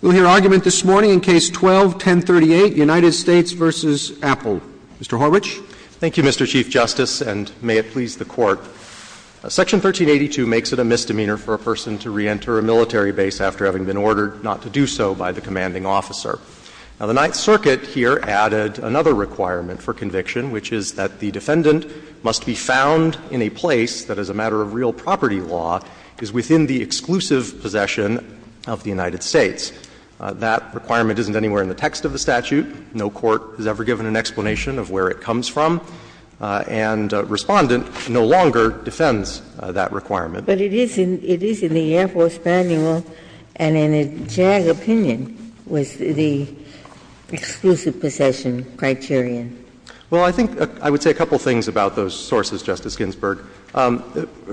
We'll hear argument this morning in Case 12-1038, United States v. Apel. Mr. Horwich. Thank you, Mr. Chief Justice, and may it please the Court. Section 1382 makes it a misdemeanor for a person to reenter a military base after having been ordered not to do so by the commanding officer. Now, the Ninth Circuit here added another requirement for conviction, which is that the defendant must be found in a place that, as a matter of real property law, is within the exclusive possession of the United States. That requirement isn't anywhere in the text of the statute. No court has ever given an explanation of where it comes from, and Respondent no longer defends that requirement. But it is in the Air Force Manual, and in a JAG opinion, was the exclusive possession criterion. Well, I think I would say a couple of things about those sources, Justice Ginsburg.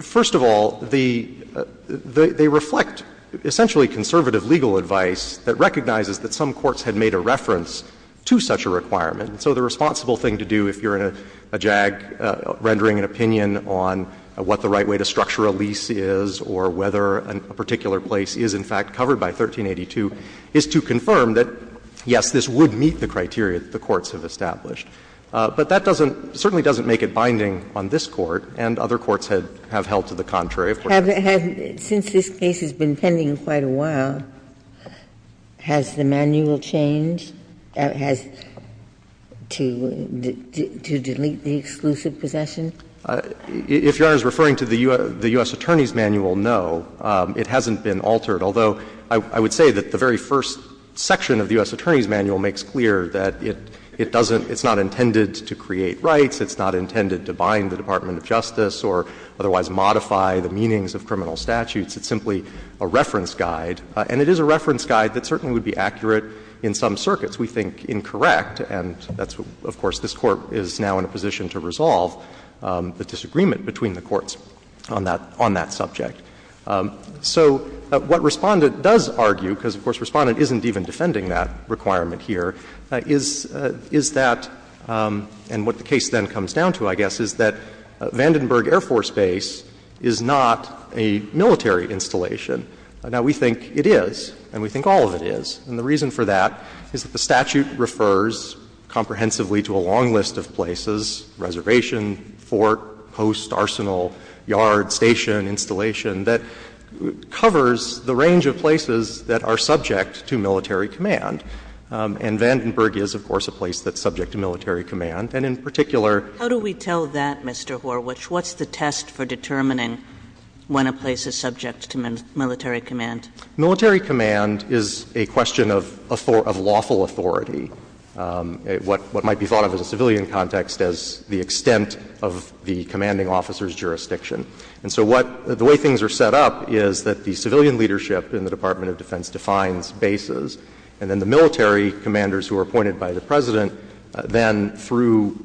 First of all, they reflect essentially conservative legal advice that recognizes that some courts had made a reference to such a requirement. And so the responsible thing to do, if you're in a JAG rendering an opinion on what the right way to structure a lease is or whether a particular place is, in fact, covered by 1382, is to confirm that, yes, this would meet the criteria that the courts have established. But that doesn't – certainly doesn't make it binding on this Court, and other courts have held to the contrary. Of course, it doesn't. Since this case has been pending quite a while, has the manual changed, has – to delete the exclusive possession? If Your Honor is referring to the U.S. Attorney's Manual, no, it hasn't been altered. Although, I would say that the very first section of the U.S. Attorney's Manual makes clear that it doesn't – it's not intended to create rights, it's not intended to bind the Department of Justice or otherwise modify the meanings of criminal statutes. It's simply a reference guide, and it is a reference guide that certainly would be accurate in some circuits. We think incorrect, and that's what – of course, this Court is now in a position to resolve the disagreement between the courts on that – on that subject. So what Respondent does argue, because, of course, Respondent isn't even defending that requirement here, is – is that – and what the case then comes down to, I guess, is that Vandenberg Air Force Base is not a military installation. Now, we think it is, and we think all of it is. And the reason for that is that the statute refers comprehensively to a long list of places, reservation, fort, post, arsenal, yard, station, installation, that covers the range of places that are subject to military command. And Vandenberg is, of course, a place that's subject to military command. And in particular – Kagan. How do we tell that, Mr. Horwich? What's the test for determining when a place is subject to military command? Military command is a question of lawful authority, what might be thought of as a civilian context as the extent of the commanding officer's jurisdiction. And so what – the way things are set up is that the civilian leadership in the Department of Defense defines bases, and then the military commanders who are appointed by the President then, through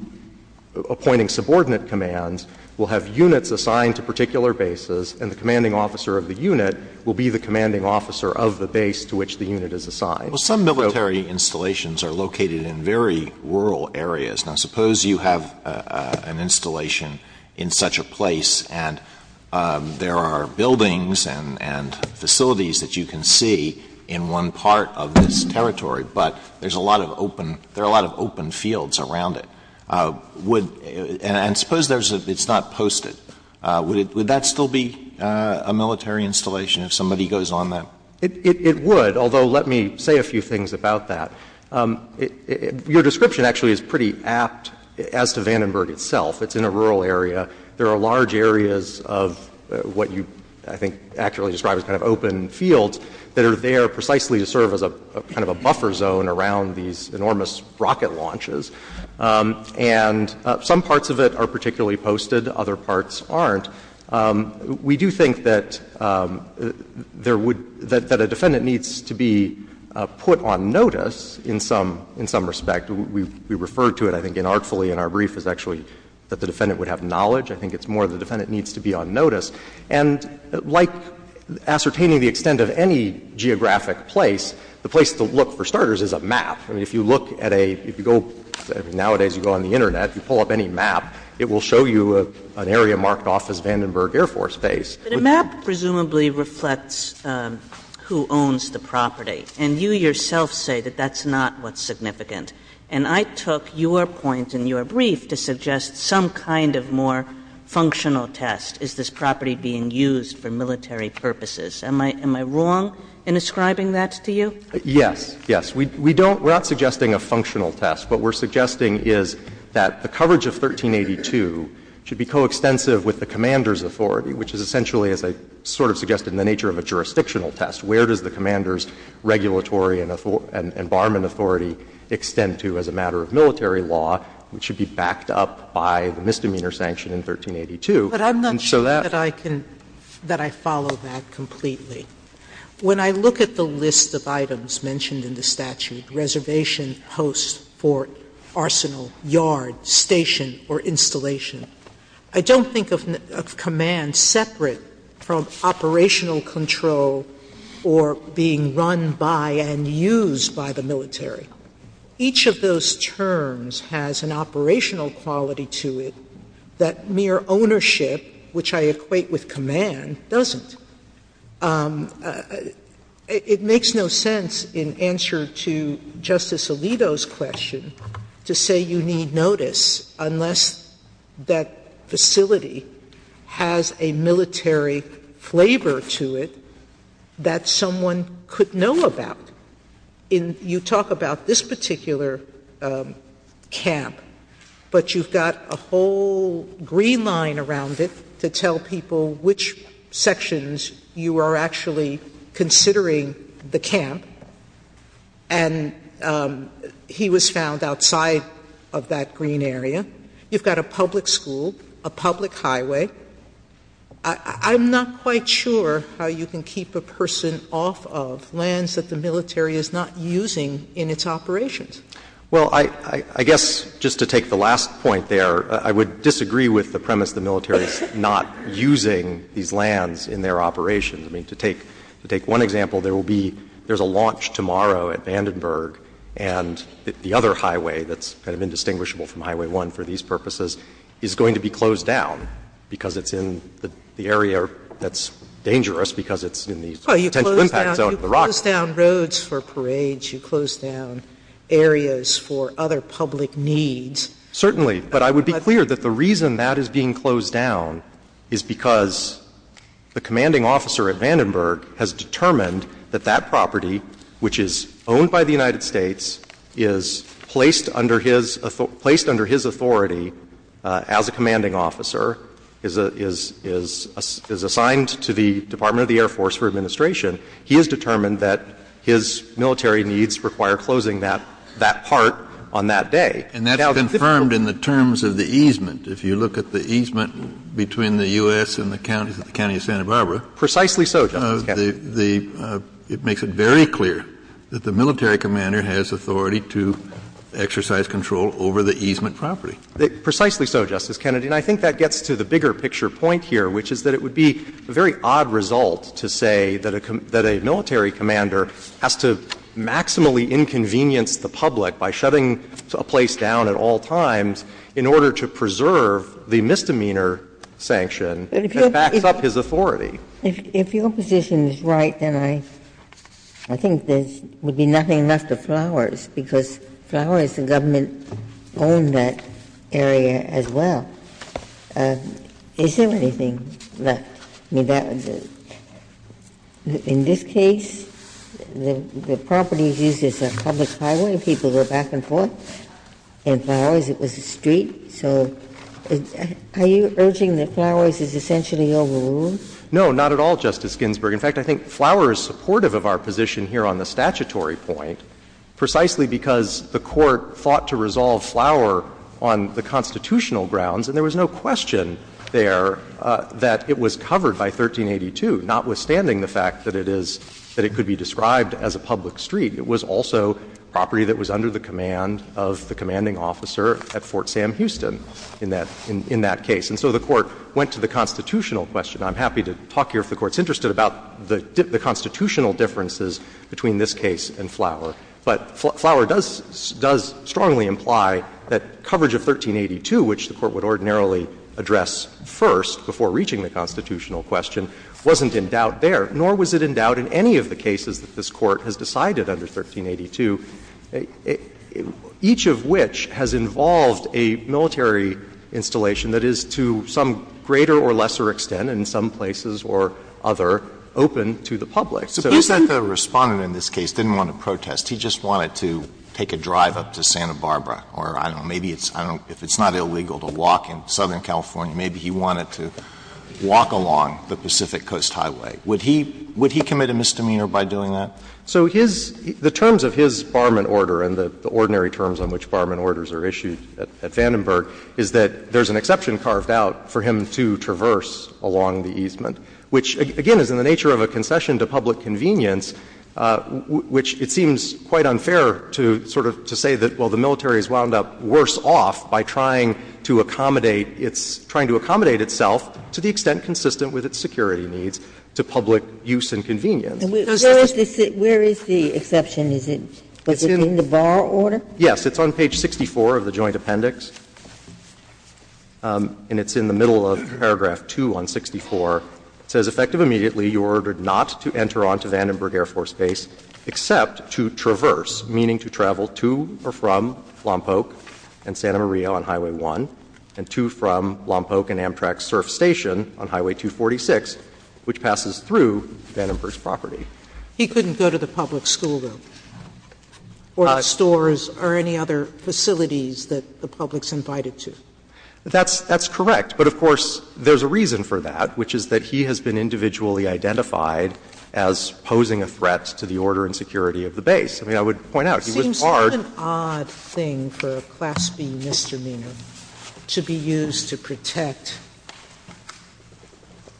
appointing subordinate commands, will have units assigned to particular bases, and the commanding officer of the unit will be the commanding officer of the base to which the unit is assigned. Well, some military installations are located in very rural areas. Now, suppose you have an installation in such a place and there are buildings and facilities that you can see in one part of this territory, but there's a lot of open – there are a lot of open fields around it. And suppose it's not posted. Would that still be a military installation if somebody goes on that? It would, although let me say a few things about that. Your description actually is pretty apt as to Vandenberg itself. It's in a rural area. There are large areas of what you, I think, accurately describe as kind of open fields that are there precisely to serve as a kind of a buffer zone around these enormous rocket launches, and some parts of it are particularly posted, other parts aren't. We do think that there would – that a defendant needs to be put on notice in some respect. We refer to it, I think, inartfully in our brief is actually that the defendant would have knowledge. I think it's more the defendant needs to be on notice. And like ascertaining the extent of any geographic place, the place to look for starters is a map. I mean, if you look at a – if you go – nowadays you go on the Internet, you pull up any map, it will show you an area marked off as Vandenberg Air Force Base. But a map presumably reflects who owns the property, and you yourself say that that's not what's significant. And I took your point in your brief to suggest some kind of more functional test, is this property being used for military purposes. Am I – am I wrong in ascribing that to you? Yes, yes. We don't – we're not suggesting a functional test. What we're suggesting is that the coverage of 1382 should be coextensive with the commander's authority, which is essentially, as I sort of suggested, the nature of a jurisdictional test. Where does the commander's regulatory and barman authority extend to as a matter of military law, which should be backed up by the misdemeanor sanction in 1382. And so that's why I'm not sure that I can – that I follow that completely. When I look at the list of items mentioned in the statute, reservation, host, fort, arsenal, yard, station, or installation, I don't think of command separate from operational control or being run by and used by the military. Each of those terms has an operational quality to it that mere ownership, which I equate with command, doesn't. It makes no sense in answer to Justice Alito's question to say you need notice unless that facility has a military flavor to it that someone could know about. In – you talk about this particular camp, but you've got a whole green line around it to tell people which sections you are actually considering the camp, and he was found outside of that green area. You've got a public school, a public highway. I'm not quite sure how you can keep a person off of lands that the military is not using in its operations. Well, I guess just to take the last point there, I would disagree with the premise that the military is not using these lands in their operations. I mean, to take one example, there will be – there's a launch tomorrow at Vandenberg, and the other highway that's kind of indistinguishable from Highway 1 for these purposes is going to be closed down because it's in the area that's dangerous, because it's in the potential impact zone of the Rockies. Well, you close down roads for parades, you close down areas for other public needs. Certainly. But I would be clear that the reason that is being closed down is because the commanding officer at Vandenberg has determined that that property, which is owned by the United States, is placed under his authority as a commanding officer, is assigned to the Department of the Air Force for administration. He has determined that his military needs require closing that part on that day. And that's confirmed in the terms of the easement. If you look at the easement between the U.S. and the counties of the County of Santa Barbara, the – it makes it very clear that the military commander has authority to exercise control over the easement property. Precisely so, Justice Kennedy. And I think that gets to the bigger-picture point here, which is that it would be a very odd result to say that a military commander has to maximally inconvenience the public by shutting a place down at all times in order to preserve the misdemeanor sanction that backs up his authority. If your position is right, then I think there would be nothing left of Flowers, because Flowers, the government, owned that area as well. Is there anything left? In this case, the property is used as a public highway, and people go back and forth. In Flowers, it was a street. So are you urging that Flowers is essentially overruled? No, not at all, Justice Ginsburg. In fact, I think Flowers is supportive of our position here on the statutory point, precisely because the Court thought to resolve Flowers on the constitutional grounds, and there was no question there that it was covered by 1382, notwithstanding the fact that it is that it could be described as a public street. It was also property that was under the command of the commanding officer at Fort Sam Houston in that case. And so the Court went to the constitutional question. I'm happy to talk here if the Court's interested about the constitutional differences between this case and Flowers. But Flowers does strongly imply that coverage of 1382, which the Court would ordinarily address first before reaching the constitutional question, wasn't in doubt there, nor was it in doubt in any of the cases that this Court has decided under 1382, each of which has involved a military installation that is to some greater or lesser extent in some places or other open to the public. So it's not that the Respondent in this case didn't want to protest that. He just wanted to take a drive up to Santa Barbara, or I don't know, maybe it's not illegal to walk in Southern California. Maybe he wanted to walk along the Pacific Coast Highway. Would he commit a misdemeanor by doing that? So his — the terms of his Barment Order and the ordinary terms on which Barment Orders are issued at Vandenberg is that there's an exception carved out for him to traverse along the easement, which, again, is in the nature of a concession to public convenience, which it seems quite unfair to sort of say that, well, the military has wound up worse off by trying to accommodate its — trying to accommodate itself to the extent consistent with its security needs to public use and convenience. Ginsburg. Where is the exception? Is it in the Bar Order? Yes. It's on page 64 of the Joint Appendix, and it's in the middle of paragraph 2 on 64. It says, Effective immediately, you are ordered not to enter on to Vandenberg Air Force Base except to traverse, meaning to travel to or from Lompoc and Santa Maria on Highway 1, and to from Lompoc and Amtrak's surf station on Highway 246, which passes through Vandenberg's property. He couldn't go to the public school, though, or the stores or any other facilities that the public's invited to. That's correct. But, of course, there's a reason for that, which is that he has been individually identified as posing a threat to the order and security of the base. I mean, I would point out, he was barred. Sotomayor, it seems to be an odd thing for a Class B misdemeanor to be used to protect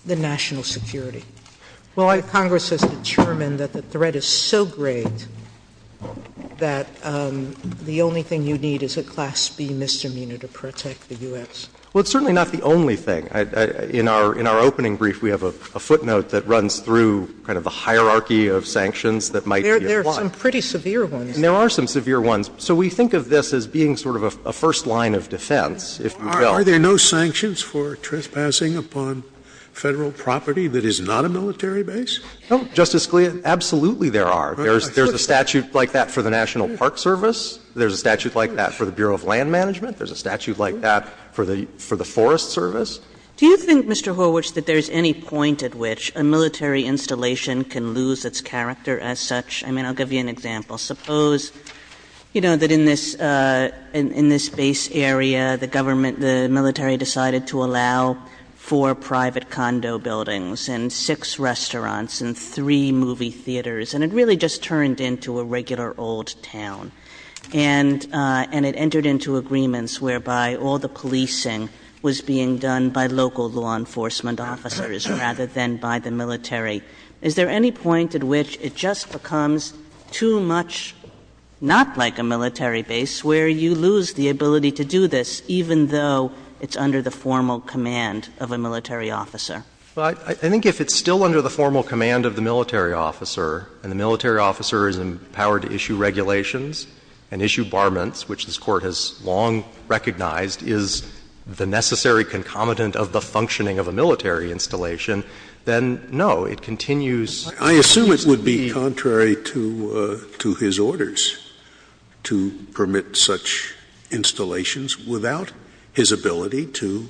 the national security. Well, Congress has determined that the threat is so great that the only thing you need is a Class B misdemeanor to protect the U.S. Well, it's certainly not the only thing. In our opening brief, we have a footnote that runs through kind of the hierarchy of sanctions that might be applied. There are some pretty severe ones. There are some severe ones. So we think of this as being sort of a first line of defense, if you will. Are there no sanctions for trespassing upon Federal property that is not a military base? No, Justice Scalia, absolutely there are. There's a statute like that for the National Park Service. There's a statute like that for the Bureau of Land Management. There's a statute like that for the Forest Service. Do you think, Mr. Horwitz, that there's any point at which a military installation can lose its character as such? I mean, I'll give you an example. Suppose, you know, that in this base area, the government, the military decided to allow four private condo buildings and six restaurants and three movie theaters, and it really just turned into a regular old town. And it entered into agreements whereby all the policing was being done by local law enforcement officers rather than by the military. Is there any point at which it just becomes too much not like a military base, where you lose the ability to do this even though it's under the formal command of a military officer? I think if it's still under the formal command of the military officer, and the military officer is empowered to issue regulations and issue barments, which this Court has long recognized is the necessary concomitant of the functioning of a military installation, then, no, it continues to be. I assume it would be contrary to his orders to permit such installations without his ability to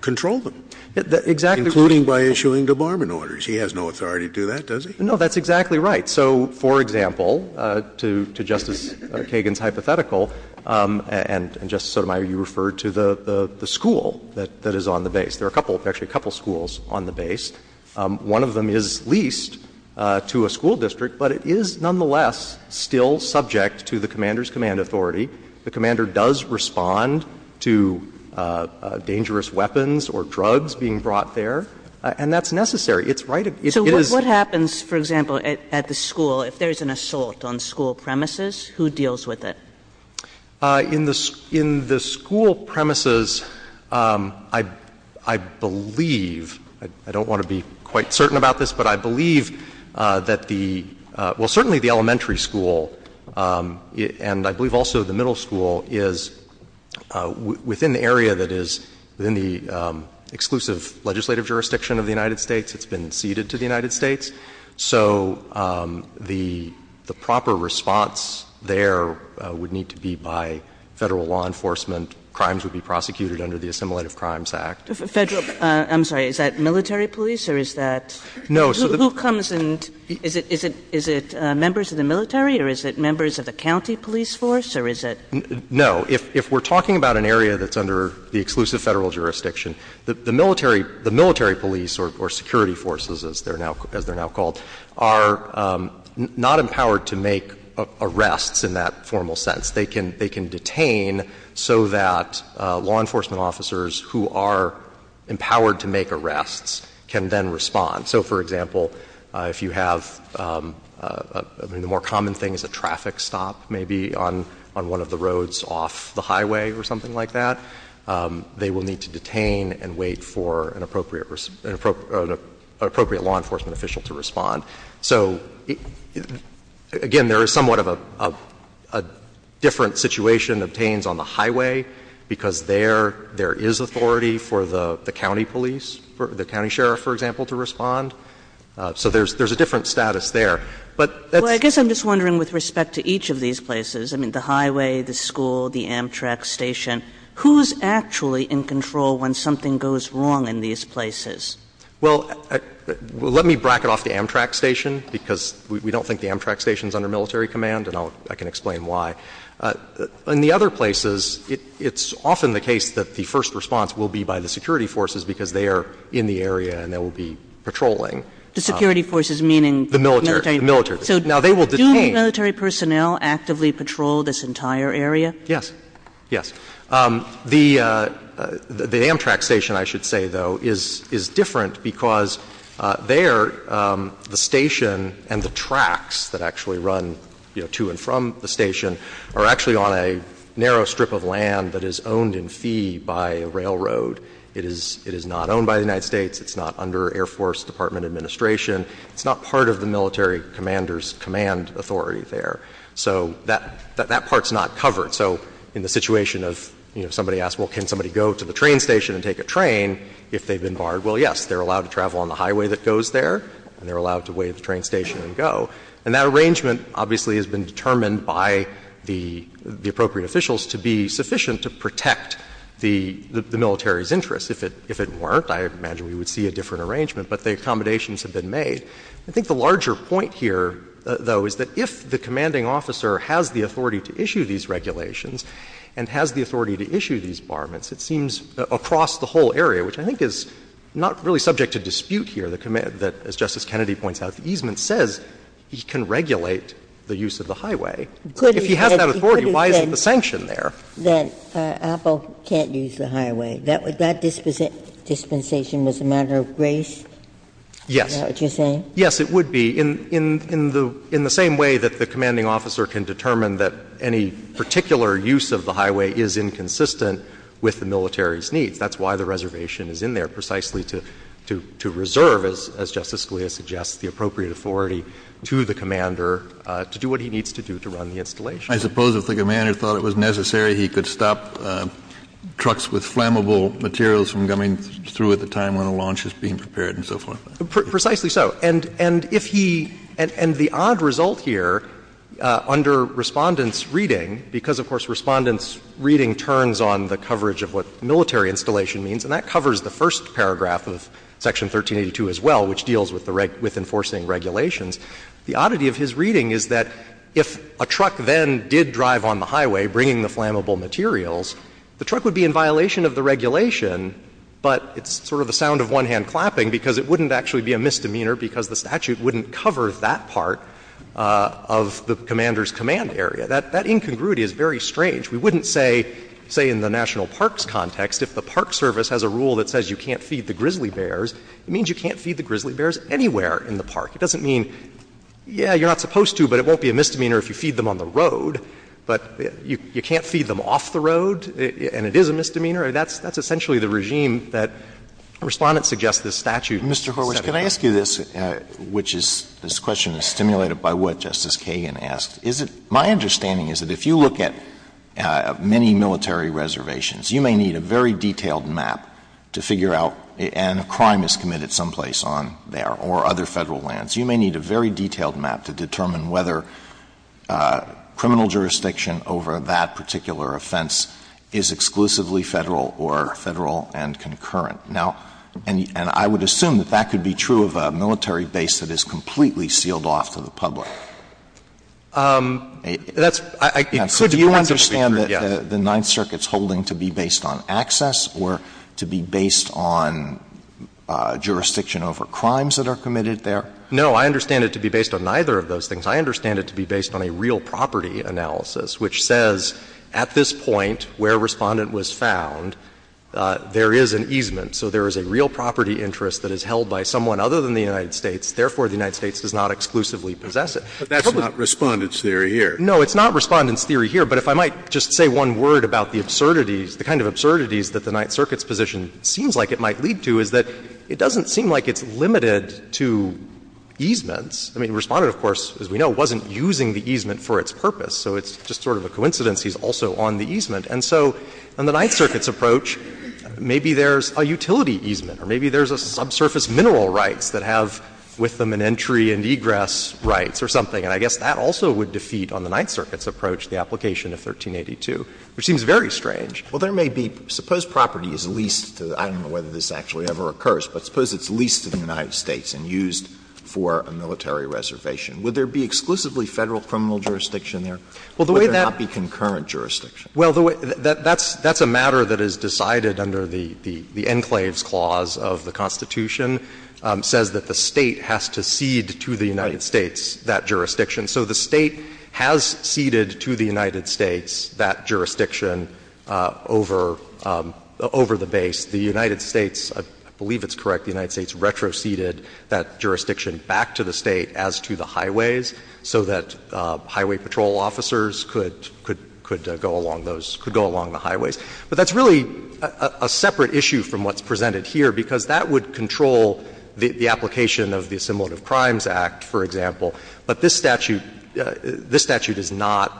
control them, including by issuing the barment orders. He has no authority to do that, does he? No, that's exactly right. So, for example, to Justice Kagan's hypothetical, and Justice Sotomayor, you referred to the school that is on the base. There are a couple, actually a couple, schools on the base. One of them is leased to a school district, but it is nonetheless still subject to the commander's command authority. The commander does respond to dangerous weapons or drugs being brought there, and that's necessary. It's right. So what happens, for example, at the school, if there's an assault on school premises? Who deals with it? In the school premises, I believe, I don't want to be quite certain about this, but I believe that the — well, certainly the elementary school, and I believe also the middle school, is within the area that is — within the exclusive legislative jurisdiction of the United States. It's been ceded to the United States. So the proper response there would need to be by Federal law enforcement. Crimes would be prosecuted under the Assimilative Crimes Act. Kagan. I'm sorry. Is that military police or is that — No. Who comes and — is it members of the military or is it members of the county police force or is it — No. If we're talking about an area that's under the exclusive Federal jurisdiction, the military — the military police or security forces, as they're now called, are not empowered to make arrests in that formal sense. They can — they can detain so that law enforcement officers who are empowered to make arrests can then respond. So, for example, if you have — I mean, the more common thing is a traffic stop, maybe, on one of the roads off the highway or something like that. They will need to detain and wait for an appropriate law enforcement official to respond. So, again, there is somewhat of a different situation obtains on the highway, because there is authority for the county police, the county sheriff, for example, to respond. So there's a different status there. But that's — Well, I guess I'm just wondering with respect to each of these places, I mean, the Who's actually in control when something goes wrong in these places? Well, let me bracket off the Amtrak station, because we don't think the Amtrak station is under military command, and I'll — I can explain why. In the other places, it's often the case that the first response will be by the security forces, because they are in the area and they will be patrolling. The security forces meaning the military? The military. So do military personnel actively patrol this entire area? Yes. Yes. The Amtrak station, I should say, though, is different, because there the station and the tracks that actually run to and from the station are actually on a narrow strip of land that is owned in fee by a railroad. It is not owned by the United States. It's not under Air Force Department administration. It's not part of the military commander's command authority there. So that part is not covered. So in the situation of, you know, somebody asks, well, can somebody go to the train station and take a train if they've been barred? Well, yes, they're allowed to travel on the highway that goes there, and they're allowed to wait at the train station and go. And that arrangement obviously has been determined by the appropriate officials to be sufficient to protect the military's interests. If it weren't, I imagine we would see a different arrangement, but the accommodations have been made. I think the larger point here, though, is that if the commanding officer has the authority to issue these regulations and has the authority to issue these barments, it seems across the whole area, which I think is not really subject to dispute here, the command that, as Justice Kennedy points out, the easement says he can regulate the use of the highway. If he has that authority, why is the sanction there? Ginsburg That Apple can't use the highway, that dispensation was a matter of grace? Yes. Ginsburg Is that what you're saying? Yes, it would be, in the same way that the commanding officer can determine that any particular use of the highway is inconsistent with the military's needs. That's why the reservation is in there, precisely to reserve, as Justice Scalia suggests, the appropriate authority to the commander to do what he needs to do to run the installation. Kennedy I suppose if the commander thought it was necessary, he could stop trucks with flammable materials from coming through at the time when the launch is being prepared and so forth. Ginsburg Precisely so. And if he — and the odd result here under Respondent's reading, because, of course, Respondent's reading turns on the coverage of what military installation means, and that covers the first paragraph of Section 1382 as well, which deals with enforcing regulations. The oddity of his reading is that if a truck then did drive on the highway, bringing the flammable materials, the truck would be in violation of the regulation, but it's sort of the sound of one hand clapping, because it wouldn't actually be a misdemeanor because the statute wouldn't cover that part of the commander's command area. That — that incongruity is very strange. We wouldn't say, say, in the national parks context, if the Park Service has a rule that says you can't feed the grizzly bears, it means you can't feed the grizzly bears anywhere in the park. It doesn't mean, yes, you're not supposed to, but it won't be a misdemeanor if you feed them on the road, but you can't feed them off the road, and it is a misdemeanor. That's essentially the regime that Respondent suggests this statute set up under. Alito, can I ask you this, which is — this question is stimulated by what Justice Kagan asked. Is it — my understanding is that if you look at many military reservations, you may need a very detailed map to figure out — and a crime is committed someplace on there, or other Federal lands. You may need a very detailed map to determine whether criminal jurisdiction over that particular offense is exclusively Federal or Federal and concurrent. Now, and I would assume that that could be true of a military base that is completely sealed off to the public. That's — I could perhaps agree with you, yes. Alito, do you understand that the Ninth Circuit's holding to be based on access or to be based on jurisdiction over crimes that are committed there? No. I understand it to be based on neither of those things. I understand it to be based on a real property analysis, which says at this point where Respondent was found, there is an easement. So there is a real property interest that is held by someone other than the United States, therefore the United States does not exclusively possess it. But that's not Respondent's theory here. No, it's not Respondent's theory here. But if I might just say one word about the absurdities, the kind of absurdities that the Ninth Circuit's position seems like it might lead to is that it doesn't seem like it's limited to easements. I mean, Respondent, of course, as we know, wasn't using the easement for its purpose. So it's just sort of a coincidence he's also on the easement. And so on the Ninth Circuit's approach, maybe there's a utility easement or maybe there's a subsurface mineral rights that have with them an entry and egress rights or something. And I guess that also would defeat on the Ninth Circuit's approach the application of 1382, which seems very strange. Well, there may be — suppose property is leased to the — I don't know whether this actually ever occurs, but suppose it's leased to the United States and used for a military reservation. Would there be exclusively Federal criminal jurisdiction there? Would there not be concurrent jurisdiction? Well, the way that — that's a matter that is decided under the enclaves clause of the Constitution, says that the State has to cede to the United States that jurisdiction. So the State has ceded to the United States that jurisdiction over the base. The United States, I believe it's correct, the United States retroceded that jurisdiction back to the State as to the highways, so that highway patrol officers could — could go along those — could go along the highways. But that's really a separate issue from what's presented here, because that would control the application of the Assimilative Crimes Act, for example. But this statute — this statute is not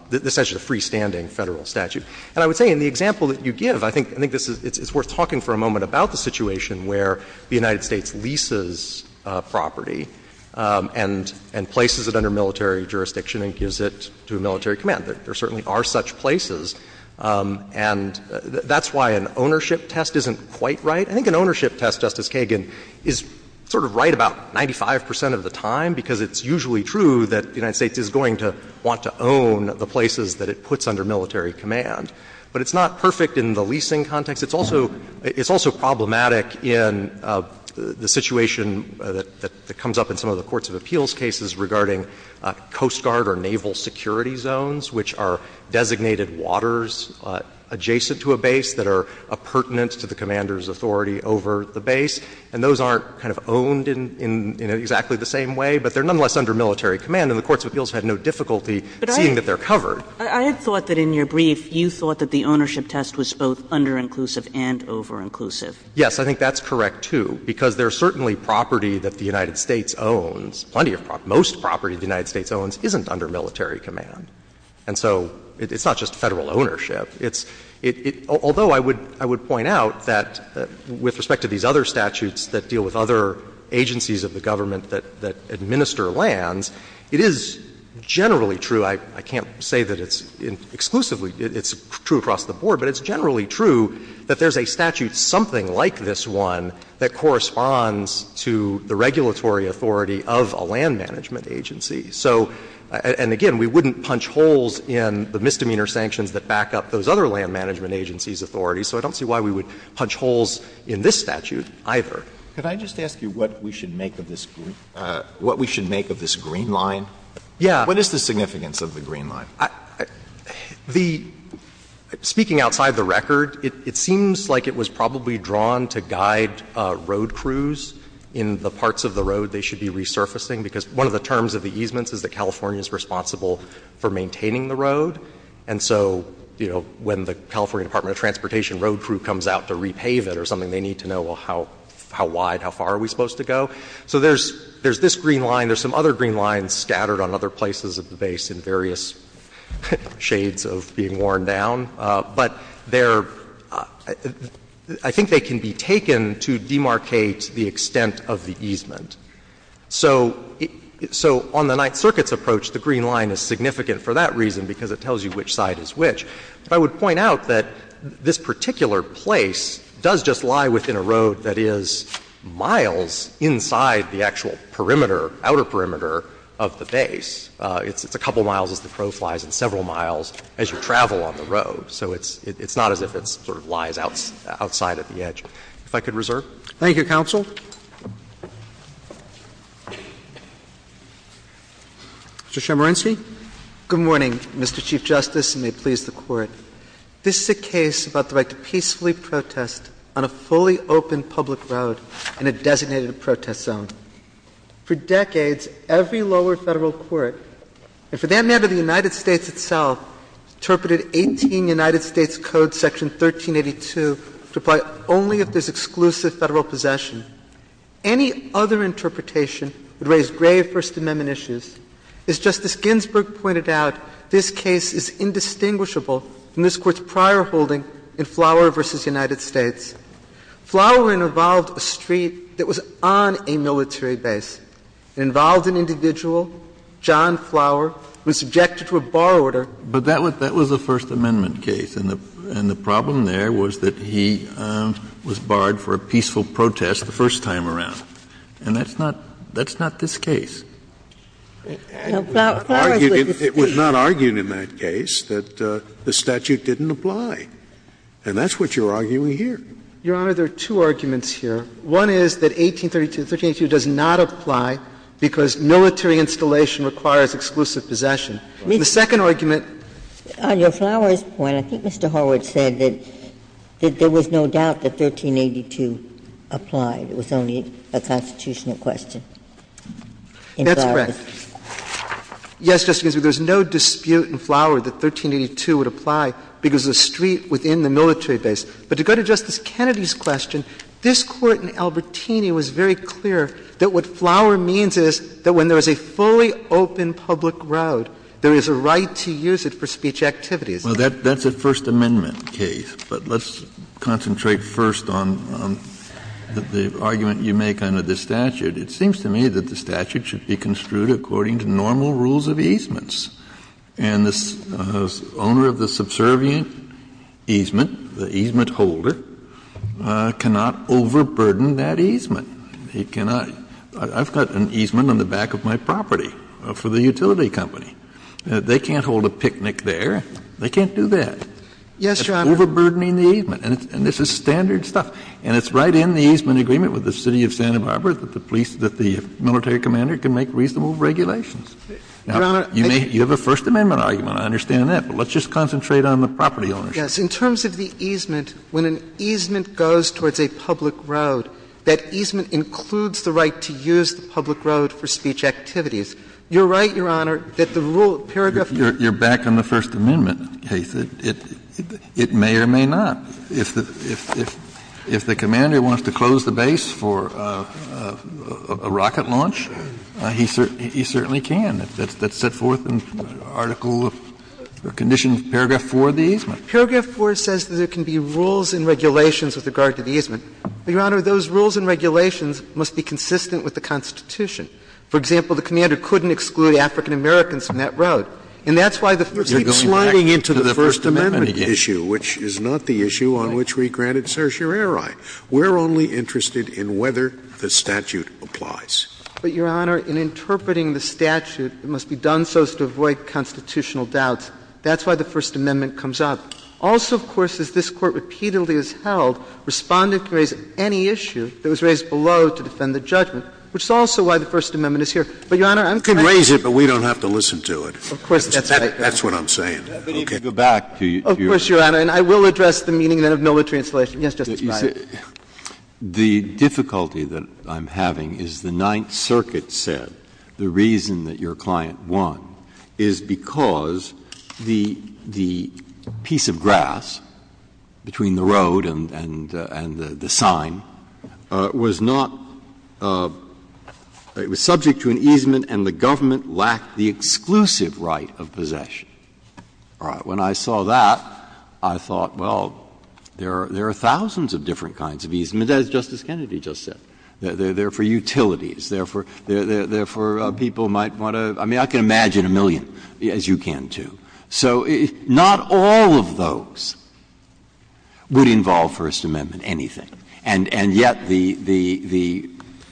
— this statute is a freestanding Federal statute. And I would say in the example that you give, I think — I think this is — it's a little bit more of a moment about the situation where the United States leases property and — and places it under military jurisdiction and gives it to a military command. There certainly are such places. And that's why an ownership test isn't quite right. I think an ownership test, Justice Kagan, is sort of right about 95 percent of the time, because it's usually true that the United States is going to want to own the places that it puts under military command. But it's not perfect in the leasing context. It's also — it's also problematic in the situation that comes up in some of the courts of appeals cases regarding Coast Guard or naval security zones, which are designated waters adjacent to a base that are appurtenant to the commander's authority over the base. And those aren't kind of owned in — in exactly the same way, but they're nonetheless under military command, and the courts of appeals had no difficulty seeing that they're covered. Kagan. I had thought that in your brief you thought that the ownership test was both under inclusive and over-inclusive. Yes, I think that's correct, too, because there's certainly property that the United States owns, plenty of — most property the United States owns isn't under military command. And so it's not just Federal ownership. It's — although I would — I would point out that with respect to these other statutes that deal with other agencies of the government that — that administer lands, it is generally true — I can't say that it's exclusively — it's true across the board, but it's generally true that there's a statute, something like this one, that corresponds to the regulatory authority of a land management agency. So — and again, we wouldn't punch holes in the misdemeanor sanctions that back up those other land management agencies' authorities, so I don't see why we would punch holes in this statute either. Could I just ask you what we should make of this — what we should make of this green line? Yeah. What is the significance of the green line? The — speaking outside the record, it seems like it was probably drawn to guide road crews in the parts of the road they should be resurfacing, because one of the terms of the easements is that California is responsible for maintaining the road. And so, you know, when the California Department of Transportation road crew comes out to repave it or something, they need to know, well, how wide, how far are we supposed to go? So there's — there's this green line. There's some other green lines scattered on other places of the base in various shades of being worn down. But they're — I think they can be taken to demarcate the extent of the easement. So — so on the Ninth Circuit's approach, the green line is significant for that reason, because it tells you which side is which. But I would point out that this particular place does just lie within a road that is miles inside the actual perimeter, outer perimeter, of the base. It's a couple miles as the crow flies and several miles as you travel on the road. So it's not as if it sort of lies outside of the edge. If I could reserve. Thank you, counsel. Mr. Chemerinsky. Good morning, Mr. Chief Justice, and may it please the Court. This is a case about the right to peacefully protest on a fully open public road in a designated protest zone. For decades, every lower federal court, and for that matter the United States itself, interpreted 18 United States Code section 1382 to apply only if there's exclusive federal possession. Any other interpretation would raise grave First Amendment issues. As Justice Ginsburg pointed out, this case is indistinguishable from this Court's prior holding in Flower v. United States. Flower involved a street that was on a military base. It involved an individual, John Flower, who was subjected to a bar order. But that was a First Amendment case, and the problem there was that he was barred for a peaceful protest the first time around, and that's not this case. It was not argued in that case that the statute didn't apply, and that's what you're arguing here. Your Honor, there are two arguments here. One is that 1832, 1382, does not apply because military installation requires exclusive possession. The second argument. On your Flower's point, I think Mr. Horowitz said that there was no doubt that 1382 applied. It was only a constitutional question. That's correct. Yes, Justice Ginsburg, there's no dispute in Flower that 1382 would apply because of the street within the military base. But to go to Justice Kennedy's question, this Court in Albertini was very clear that what Flower means is that when there is a fully open public road, there is a right to use it for speech activities. Well, that's a First Amendment case, but let's concentrate first on the argument you make under the statute. It seems to me that the statute should be construed according to normal rules of easements. And the owner of the subservient easement, the easement holder, cannot overburden that easement. He cannot. I've got an easement on the back of my property for the utility company. They can't hold a picnic there. They can't do that. Yes, Your Honor. It's overburdening the easement. And this is standard stuff. And it's right in the easement agreement with the City of Santa Barbara that the police — that the military commander can make reasonable regulations. Your Honor, I can't. Now, you have a First Amendment argument, I understand that, but let's just concentrate on the property ownership. Yes. In terms of the easement, when an easement goes towards a public road, that easement includes the right to use the public road for speech activities. You're right, Your Honor, that the rule paragraph of the easement. You're back on the First Amendment case. It may or may not. If the commander wants to close the base for a rocket launch, he certainly can. That's set forth in Article of Conditions, paragraph 4 of the easement. Paragraph 4 says that there can be rules and regulations with regard to the easement. But, Your Honor, those rules and regulations must be consistent with the Constitution. For example, the commander couldn't exclude African-Americans from that road. And that's why the First Amendment case. Scalia, you're going back to the First Amendment again. Scalia, which is not the issue on which we granted certiorari. We're only interested in whether the statute applies. But, Your Honor, in interpreting the statute, it must be done so as to avoid constitutional doubts. That's why the First Amendment comes up. Also, of course, as this Court repeatedly has held, Respondent can raise any issue that was raised below to defend the judgment, which is also why the First Amendment is here. But, Your Honor, I'm trying to say the same thing. Scalia, you can raise it, but we don't have to listen to it. Of course, that's right. That's what I'm saying. Okay. But you can go back to your own. Of course, Your Honor. And I will address the meaning then of military installation. Yes, Justice Breyer. The difficulty that I'm having is the Ninth Circuit said the reason that your client won is because the piece of grass between the road and the sign was a piece of grass that was not — it was subject to an easement and the government lacked the exclusive right of possession. When I saw that, I thought, well, there are thousands of different kinds of easements, as Justice Kennedy just said. They're for utilities. They're for people might want to — I mean, I can imagine a million, as you can, too. So not all of those would involve First Amendment anything. And yet the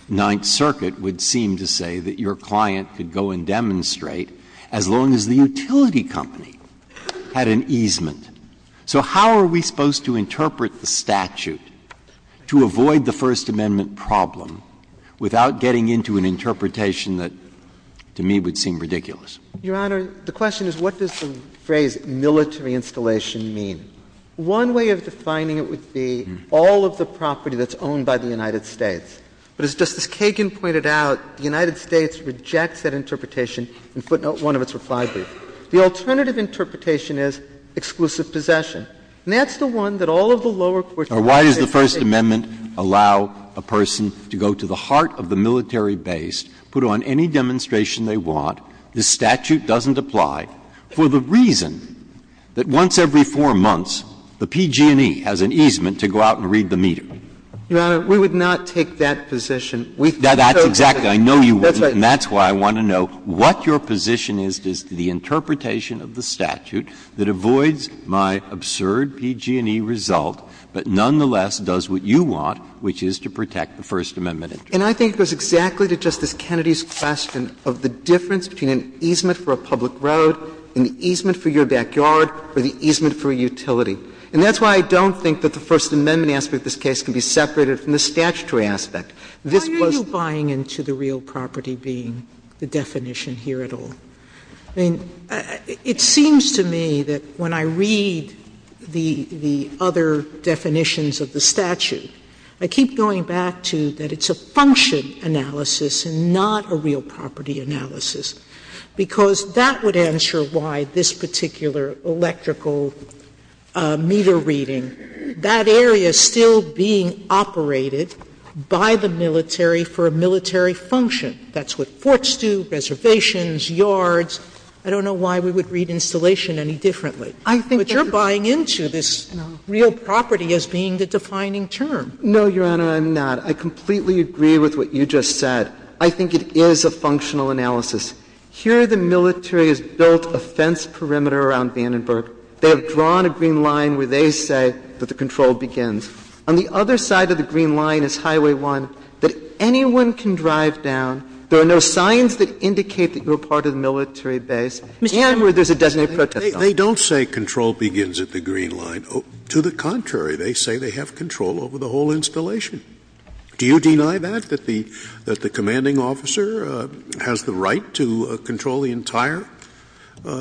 Ninth Circuit would seem to say that your client could go and demonstrate as long as the utility company had an easement. So how are we supposed to interpret the statute to avoid the First Amendment problem without getting into an interpretation that, to me, would seem ridiculous? Your Honor, the question is what does the phrase military installation mean? One way of defining it would be all of the property that's owned by the United States. But as Justice Kagan pointed out, the United States rejects that interpretation in footnote 1 of its reply brief. The alternative interpretation is exclusive possession. And that's the one that all of the lower courts in the United States say— Breyer. Why does the First Amendment allow a person to go to the heart of the military base, put on any demonstration they want, the statute doesn't apply, for the reason that once every four months, the PG&E has an easement to go out and read the meter? Your Honor, we would not take that position. We think it's okay. That's exactly. I know you wouldn't. That's why I want to know what your position is as to the interpretation of the statute that avoids my absurd PG&E result, but nonetheless does what you want, which is to protect the First Amendment interest. And I think it goes exactly to Justice Kennedy's question of the difference between an easement for a public road, an easement for your backyard, or the easement for a utility. And that's why I don't think that the First Amendment aspect of this case can be separated from the statutory aspect. This was— Sotomayor, how are you buying into the real property being the definition here at all? I mean, it seems to me that when I read the other definitions of the statute, I keep going back to that it's a function analysis and not a real property analysis. Because that would answer why this particular electrical meter reading, that area still being operated by the military for a military function. That's what forts do, reservations, yards. I don't know why we would read installation any differently. But you're buying into this real property as being the defining term. No, Your Honor, I'm not. I completely agree with what you just said. I think it is a functional analysis. Here the military has built a fence perimeter around Vandenberg. They have drawn a green line where they say that the control begins. On the other side of the green line is Highway 1 that anyone can drive down. There are no signs that indicate that you're part of the military base. And where there's a designated protest zone. They don't say control begins at the green line. To the contrary, they say they have control over the whole installation. Do you deny that, that the commanding officer has the right to control the entire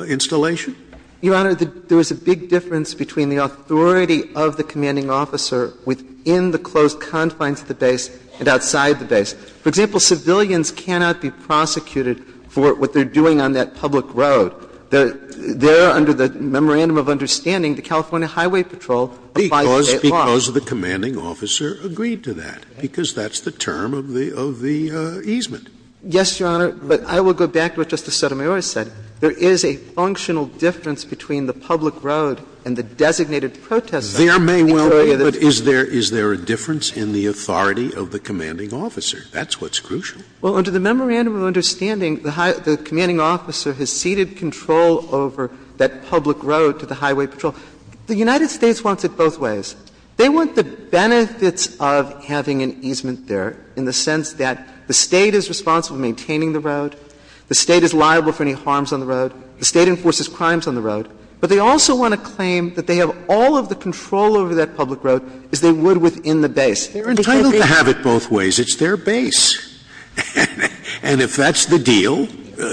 installation? Your Honor, there is a big difference between the authority of the commanding officer within the closed confines of the base and outside the base. For example, civilians cannot be prosecuted for what they're doing on that public road. They're under the memorandum of understanding the California Highway Patrol applies at all. Scalia, because of the commanding officer, agreed to that, because that's the term of the easement. Yes, Your Honor, but I will go back to what Justice Sotomayor said. There is a functional difference between the public road and the designated protest zone. There may well be, but is there a difference in the authority of the commanding officer? That's what's crucial. Well, under the memorandum of understanding, the commanding officer has ceded control over that public road to the Highway Patrol. The United States wants it both ways. They want the benefits of having an easement there in the sense that the State is responsible for maintaining the road, the State is liable for any harms on the road, the State enforces crimes on the road, but they also want to claim that they have all of the control over that public road as they would within the base. They're entitled to have it both ways. It's their base. And if that's the deal,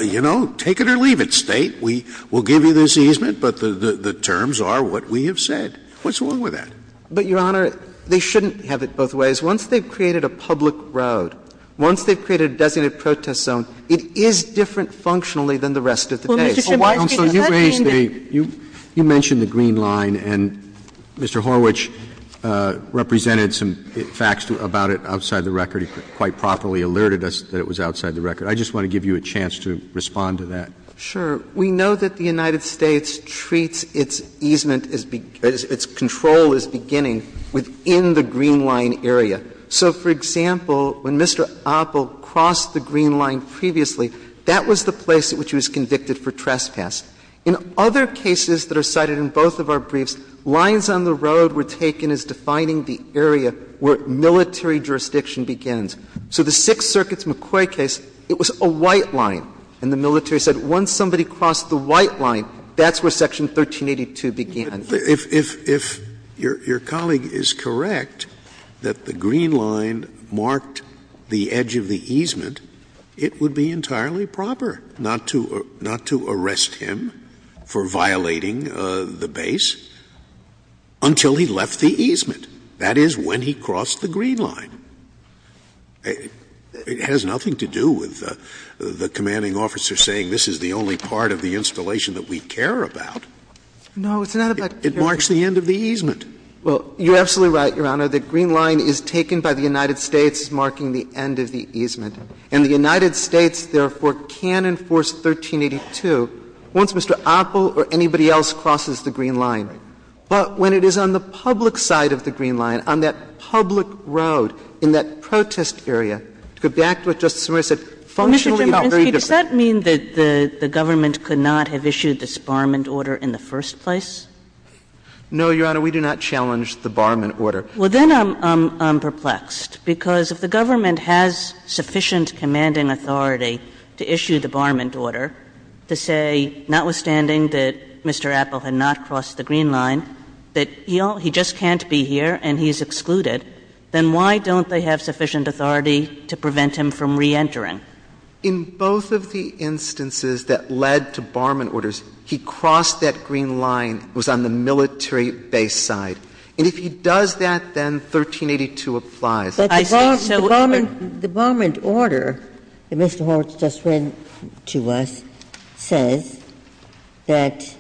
you know, take it or leave it, State. We'll give you this easement, but the terms are what we have said. What's wrong with that? But, Your Honor, they shouldn't have it both ways. Once they've created a public road, once they've created a designated protest zone, it is different functionally than the rest of the base. Well, Mr. Schiml, I'm sorry, you raised a — you mentioned the green line, and Mr. Horwich represented some facts about it outside the record. He quite properly alerted us that it was outside the record. I just want to give you a chance to respond to that. Sure. We know that the United States treats its easement as — its control as beginning within the green line area. So, for example, when Mr. Oppel crossed the green line previously, that was the place at which he was convicted for trespass. In other cases that are cited in both of our briefs, lines on the road were taken as defining the area where military jurisdiction begins. So the Sixth Circuit's McCoy case, it was a white line, and the military said, once somebody crossed the white line, that's where Section 1382 began. If your colleague is correct that the green line marked the edge of the easement, it would be entirely proper not to arrest him for violating the base until he left the easement, that is, when he crossed the green line. It has nothing to do with the commanding officer saying this is the only part of the installation that we care about. No, it's not about care. It marks the end of the easement. Well, you're absolutely right, Your Honor. The green line is taken by the United States, marking the end of the easement. And the United States, therefore, can enforce 1382 once Mr. Oppel or anybody else crosses the green line. But when it is on the public side of the green line, on that public road, in that protest area, to go back to what Justice Sotomayor said, functionally it felt very But, Mr. Gimbinski, does that mean that the government could not have issued this barment order in the first place? No, Your Honor. We do not challenge the barment order. Well, then I'm perplexed, because if the government has sufficient commanding authority to issue the barment order, to say, notwithstanding that Mr. Oppel had not crossed the green line, that he just can't be here and he's excluded, then why don't they have sufficient authority to prevent him from reentering? In both of the instances that led to barment orders, he crossed that green line, was on the military base side. And if he does that, then 1382 applies. I think so, Your Honor. But the barment order that Mr. Horwitz just read to us says that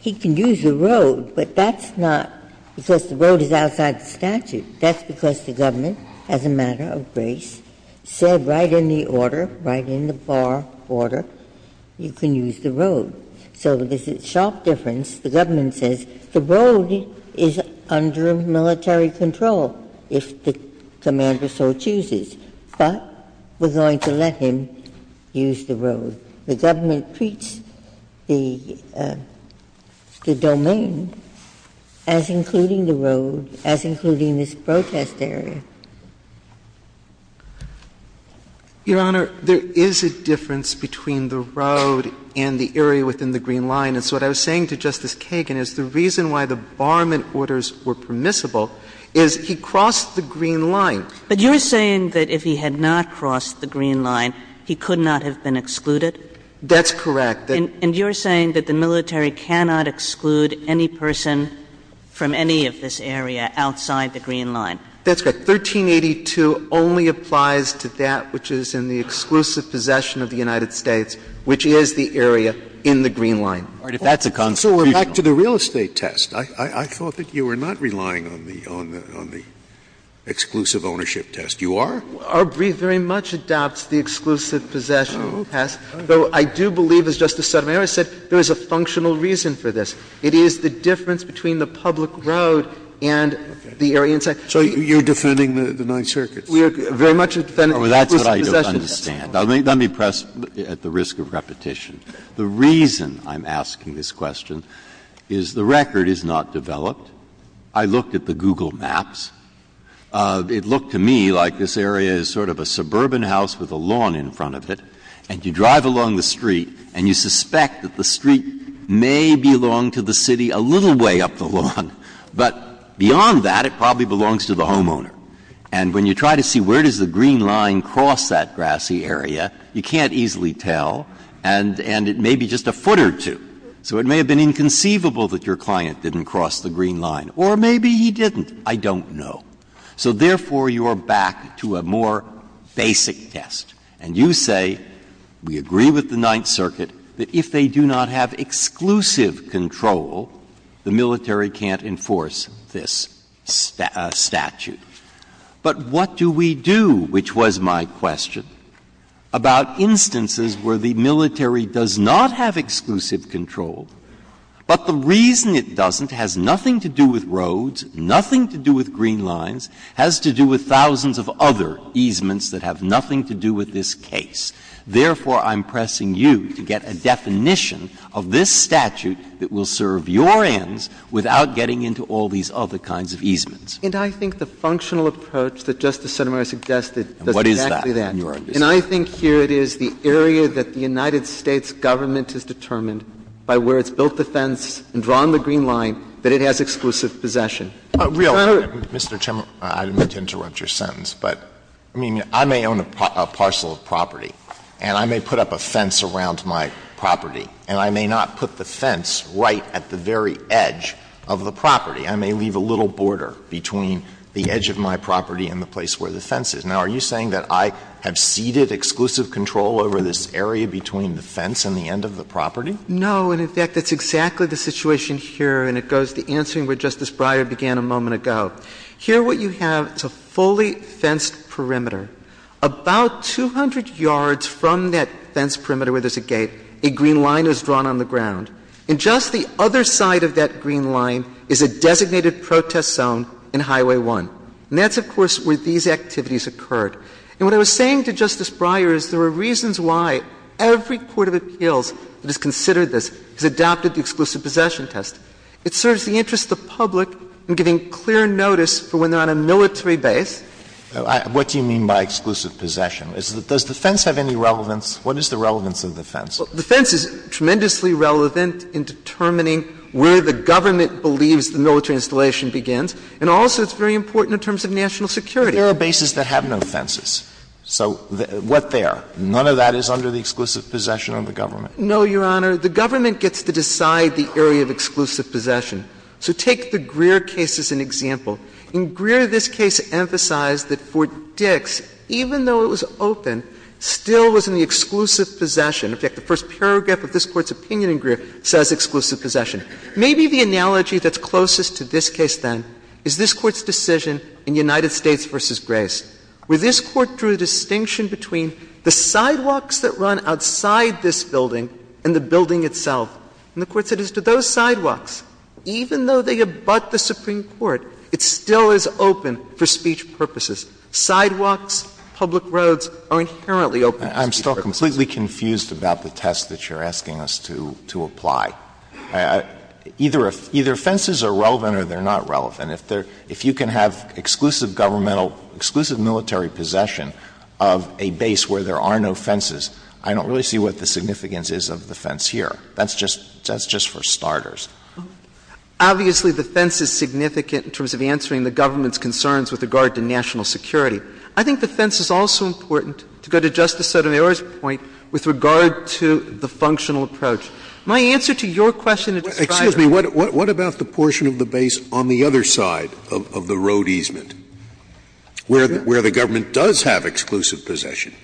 he can use the road, but that's not because the road is outside the statute. That's because the government, as a matter of grace, said right in the order, right in the bar order, you can use the road. So there's a sharp difference. The government says the road is under military control, if the commander so chooses. But we're going to let him use the road. The government treats the domain as including the road, as including this protest area. Your Honor, there is a difference between the road and the area within the green line. And so what I was saying to Justice Kagan is the reason why the barment orders were permissible is he crossed the green line. But you're saying that if he had not crossed the green line, he could not have been excluded? That's correct. And you're saying that the military cannot exclude any person from any of this area outside the green line? That's correct. 1382 only applies to that which is in the exclusive possession of the United States, which is the area in the green line. If that's a constitutional So we're back to the real estate test. I thought that you were not relying on the exclusive ownership test. You are? Our brief very much adopts the exclusive possession test, though I do believe, as Justice Sotomayor said, there is a functional reason for this. It is the difference between the public road and the area inside. So you're defending the Ninth Circuit's? We are very much defending the exclusive possession test. Oh, that's what I don't understand. Let me press at the risk of repetition. The reason I'm asking this question is the record is not developed. I looked at the Google maps. It looked to me like this area is sort of a suburban house with a lawn in front of it, and you drive along the street and you suspect that the street may belong to the city a little way up the lawn, but beyond that, it probably belongs to the homeowner. And when you try to see where does the green line cross that grassy area, you can't easily tell. And it may be just a foot or two. So it may have been inconceivable that your client didn't cross the green line. Or maybe he didn't. I don't know. So therefore, you are back to a more basic test. And you say, we agree with the Ninth Circuit that if they do not have exclusive control, the military can't enforce this statute. But what do we do, which was my question, about instances where the military does not have exclusive control, but the reason it doesn't has nothing to do with roads, nothing to do with green lines, has to do with thousands of other easements that have nothing to do with this case. Therefore, I'm pressing you to get a definition of this statute that will serve And I think the functional approach that Justice Sotomayor suggested does exactly that. And I think here it is, the area that the United States Government has determined by where it's built the fence and drawn the green line, that it has exclusive possession. Sotomayor, Mr. Chairman, I didn't mean to interrupt your sentence, but I mean, I may own a parcel of property, and I may put up a fence around my property, and I may not put the fence right at the very edge of the property. I may leave a little border between the edge of my property and the place where the fence is. Now, are you saying that I have ceded exclusive control over this area between the fence and the end of the property? No. And, in fact, that's exactly the situation here, and it goes to the answer where Justice Breyer began a moment ago. Here what you have is a fully fenced perimeter. About 200 yards from that fence perimeter where there's a gate, a green line is drawn on the ground. And just the other side of that green line is a designated protest zone in Highway 1. And that's, of course, where these activities occurred. And what I was saying to Justice Breyer is there are reasons why every court of appeals that has considered this has adopted the exclusive possession test. It serves the interest of the public in giving clear notice for when they're on a military base. What do you mean by exclusive possession? Does the fence have any relevance? What is the relevance of the fence? The fence is tremendously relevant in determining where the government believes the military installation begins, and also it's very important in terms of national security. But there are bases that have no fences. So what there? None of that is under the exclusive possession of the government. No, Your Honor. The government gets to decide the area of exclusive possession. So take the Greer case as an example. In Greer, this case emphasized that Fort Dix, even though it was open, still was in the exclusive possession. In fact, the first paragraph of this Court's opinion in Greer says exclusive possession. Maybe the analogy that's closest to this case, then, is this Court's decision in United States v. Grace, where this Court drew a distinction between the sidewalks that run outside this building and the building itself. And the Court said as to those sidewalks, even though they abut the Supreme Court, it still is open for speech purposes. Sidewalks, public roads are inherently open for speech purposes. I'm still completely confused about the test that you're asking us to apply. Either fences are relevant or they're not relevant. If you can have exclusive governmental, exclusive military possession of a base where there are no fences, I don't really see what the significance is of the fence here. That's just for starters. Obviously, the fence is significant in terms of answering the government's concerns with regard to national security. I think the fence is also important, to go to Justice Sotomayor's point, with regard to the functional approach. My answer to your question is driverless. Scalia, what about the portion of the base on the other side of the road easement where the government does have exclusive possession?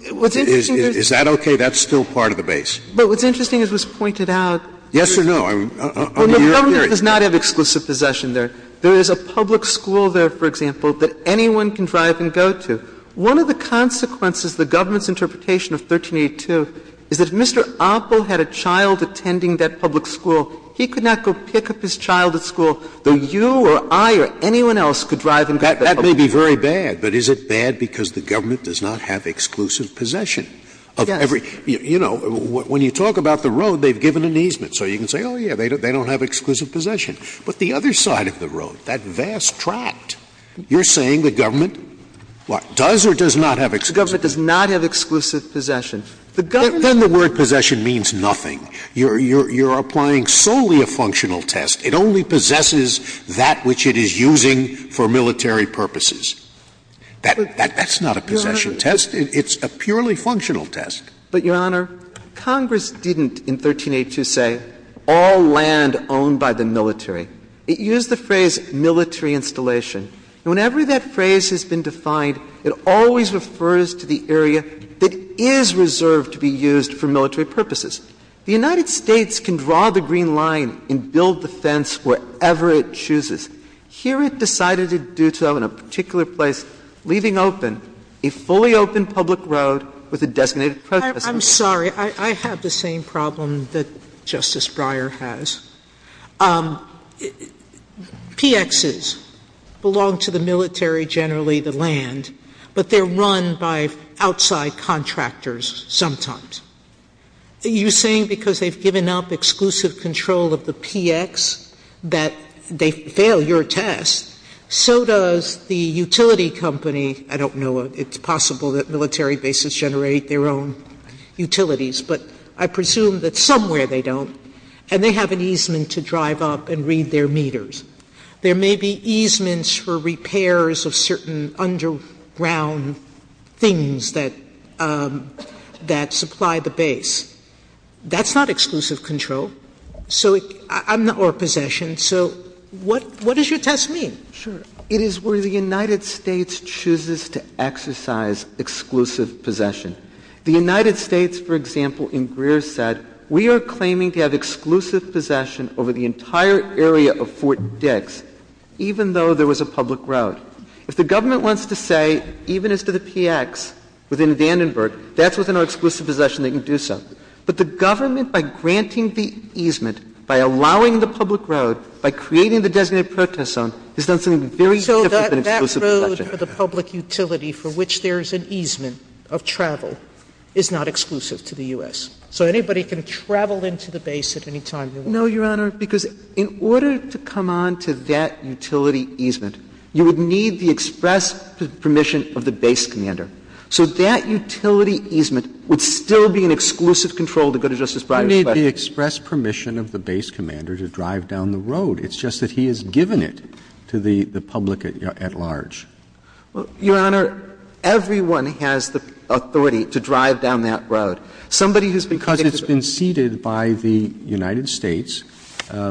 Is that okay? That's still part of the base. But what's interesting, as was pointed out, is that the government does not have exclusive possession there. There is a public school there, for example, that anyone can drive and go to. One of the consequences of the government's interpretation of 1382 is that if Mr. Oppel had a child attending that public school, he could not go pick up his child at school, though you or I or anyone else could drive and go to that public school. That may be very bad, but is it bad because the government does not have exclusive possession of every? You know, when you talk about the road, they've given an easement. So you can say, oh, yeah, they don't have exclusive possession. But the other side of the road, that vast tract, you're saying the government does or does not have exclusive? The government does not have exclusive possession. The government's going to say that. Then the word possession means nothing. You're applying solely a functional test. It only possesses that which it is using for military purposes. That's not a possession test. It's a purely functional test. But, Your Honor, Congress didn't in 1382 say all land owned by the military. It used the phrase military installation. And whenever that phrase has been defined, it always refers to the area that is reserved to be used for military purposes. The United States can draw the green line and build the fence wherever it chooses. Here it decided to do so in a particular place, leaving open a fully open public road with a designated protester. Sotomayor I'm sorry, I have the same problem that Justice Breyer has. PXs belong to the military generally, the land, but they're run by outside contractors sometimes. You're saying because they've given up exclusive control of the PX that they fail your test, so does the utility company. I don't know. It's possible that military bases generate their own utilities, but I presume that somewhere they don't, and they have an easement to drive up and read their meters. There may be easements for repairs of certain underground things that supply the base. That's not exclusive control, or possession, so what does your test mean? Sure. It is where the United States chooses to exercise exclusive possession. The United States, for example, in Greer said, we are claiming to have exclusive possession over the entire area of Fort Dix, even though there was a public road. If the government wants to say, even as to the PX within Vandenberg, that's within our exclusive possession, they can do so. But the government, by granting the easement, by allowing the public road, by creating the designated protest zone, has done something very different than exclusive possession. So that road for the public utility for which there is an easement of travel is not exclusive to the U.S.? So anybody can travel into the base at any time they want? No, Your Honor, because in order to come on to that utility easement, you would need the express permission of the base commander. So that utility easement would still be an exclusive control to go to Justice Breyer's question. You need the express permission of the base commander to drive down the road. It's just that he has given it to the public at large. Your Honor, everyone has the authority to drive down that road. Somebody who's been convicted of it. Because it's been ceded by the United States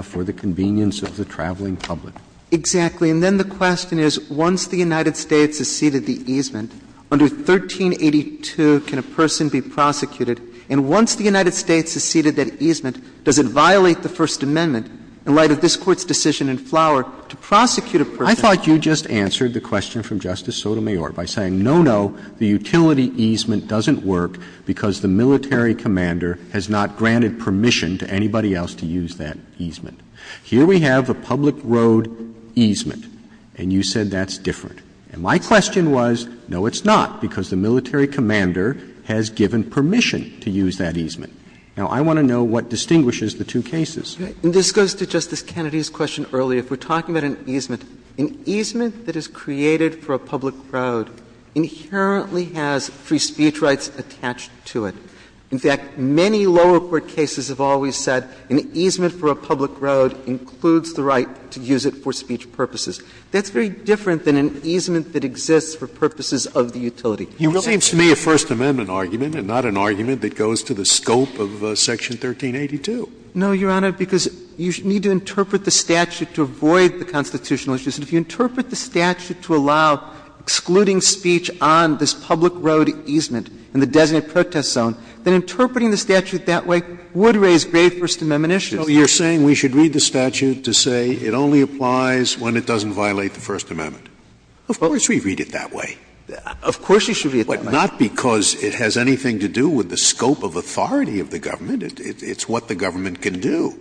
for the convenience of the traveling public. Exactly. And then the question is, once the United States has ceded the easement, under 1382, can a person be prosecuted? And once the United States has ceded that easement, does it violate the First Amendment in light of this Court's decision in Flower to prosecute a person? I thought you just answered the question from Justice Sotomayor by saying, no, no, the utility easement doesn't work because the military commander has not granted permission to anybody else to use that easement. Here we have a public road easement, and you said that's different. And my question was, no, it's not, because the military commander has given permission to use that easement. Now, I want to know what distinguishes the two cases. This goes to Justice Kennedy's question earlier. If we're talking about an easement, an easement that is created for a public road inherently has free speech rights attached to it. In fact, many lower court cases have always said an easement for a public road includes the right to use it for speech purposes. That's very different than an easement that exists for purposes of the utility. It seems to me a First Amendment argument and not an argument that goes to the scope of section 1382. No, Your Honor, because you need to interpret the statute to avoid the constitutional issues. And if you interpret the statute to allow excluding speech on this public road easement in the designated protest zone, then interpreting the statute that way would raise grave First Amendment issues. No, you're saying we should read the statute to say it only applies when it doesn't violate the First Amendment. Of course we read it that way. Of course you should read it that way. But not because it has anything to do with the scope of authority of the government. It's what the government can do.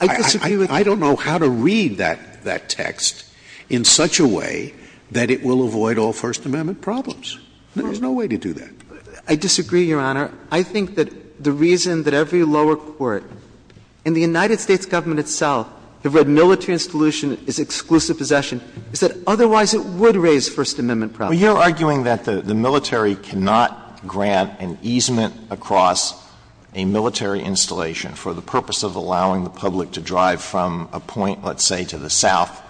I don't know how to read that text in such a way that it will avoid all First Amendment problems. There's no way to do that. I disagree, Your Honor. I think that the reason that every lower court and the United States government itself have read military installation as exclusive possession is that otherwise it would raise First Amendment problems. Alito, you're arguing that the military cannot grant an easement across a military installation for the purpose of allowing the public to drive from a point, let's say, to the south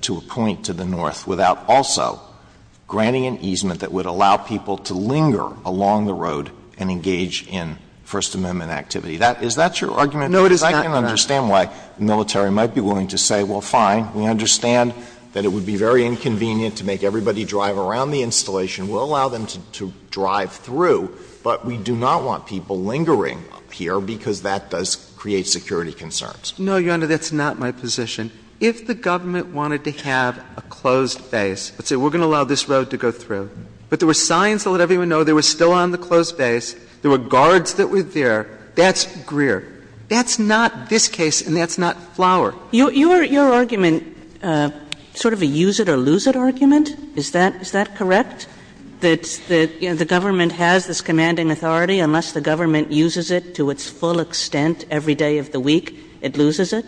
to a point to the north without also granting an easement that would allow people to linger along the road and engage in First Amendment activity. Is that your argument? No, it is not, Your Honor. I can understand why the military might be willing to say, well, fine, we understand that it would be very inconvenient to make everybody drive around the installation. We'll allow them to drive through, but we do not want people lingering here because that does create security concerns. No, Your Honor, that's not my position. If the government wanted to have a closed base, let's say we're going to allow this road to go through, but there were signs that let everyone know they were still on the closed base, there were guards that were there, that's Greer. That's not this case and that's not Flower. Your argument, sort of a use-it-or-lose-it argument, is that correct, that, you know, the government has this commanding authority? Unless the government uses it to its full extent every day of the week, it loses it?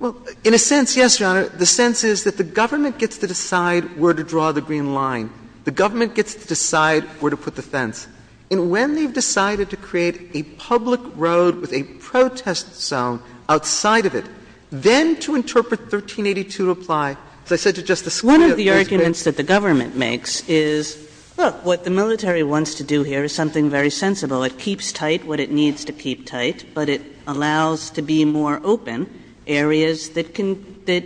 Well, in a sense, yes, Your Honor. The sense is that the government gets to decide where to draw the green line. The government gets to decide where to put the fence. And when they've decided to create a public road with a protest zone outside of it, then to interpret 1382 to apply, as I said to Justice Scalia, a closed base. One of the arguments that the government makes is, look, what the military wants to do here is something very sensible. It keeps tight what it needs to keep tight, but it allows to be more open areas that can – that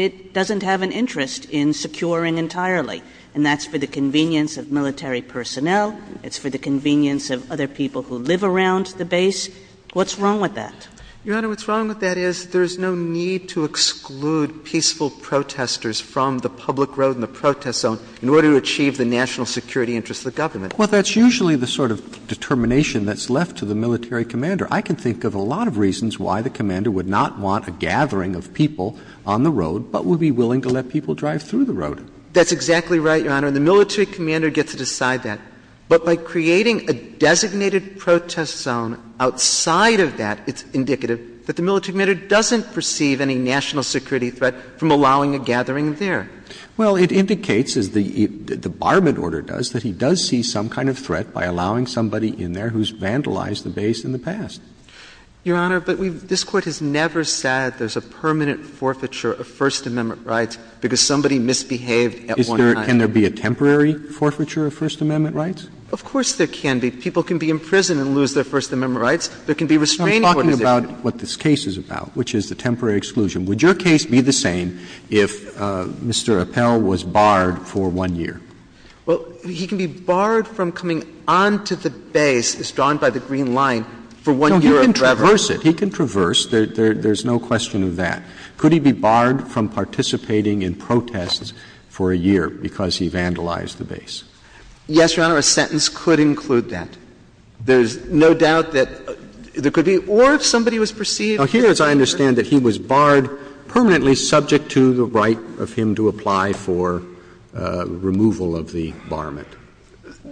it doesn't have an interest in securing entirely. And that's for the convenience of military personnel. It's for the convenience of other people who live around the base. What's wrong with that? Your Honor, what's wrong with that is there's no need to exclude peaceful protesters from the public road and the protest zone in order to achieve the national security interests of the government. Well, that's usually the sort of determination that's left to the military commander. I can think of a lot of reasons why the commander would not want a gathering of people on the road, but would be willing to let people drive through the road. That's exactly right, Your Honor, and the military commander gets to decide that. But by creating a designated protest zone outside of that, it's indicative that the military commander doesn't perceive any national security threat from allowing a gathering there. Well, it indicates, as the Barment order does, that he does see some kind of threat by allowing somebody in there who's vandalized the base in the past. Your Honor, but we've – this Court has never said there's a permanent forfeiture of First Amendment rights because somebody misbehaved at one time. Can there be a temporary forfeiture of First Amendment rights? Of course there can be. People can be imprisoned and lose their First Amendment rights. There can be restraining orders if they're not. I'm talking about what this case is about, which is the temporary exclusion. Would your case be the same if Mr. Appell was barred for one year? Well, he can be barred from coming onto the base as drawn by the green line for one year of travel. No, he can traverse it. He can traverse. There's no question of that. Could he be barred from participating in protests for a year? Because he vandalized the base. Yes, Your Honor, a sentence could include that. There's no doubt that there could be. Or if somebody was perceived to be a perjurer. Now, here, as I understand it, he was barred permanently subject to the right of him to apply for removal of the barment.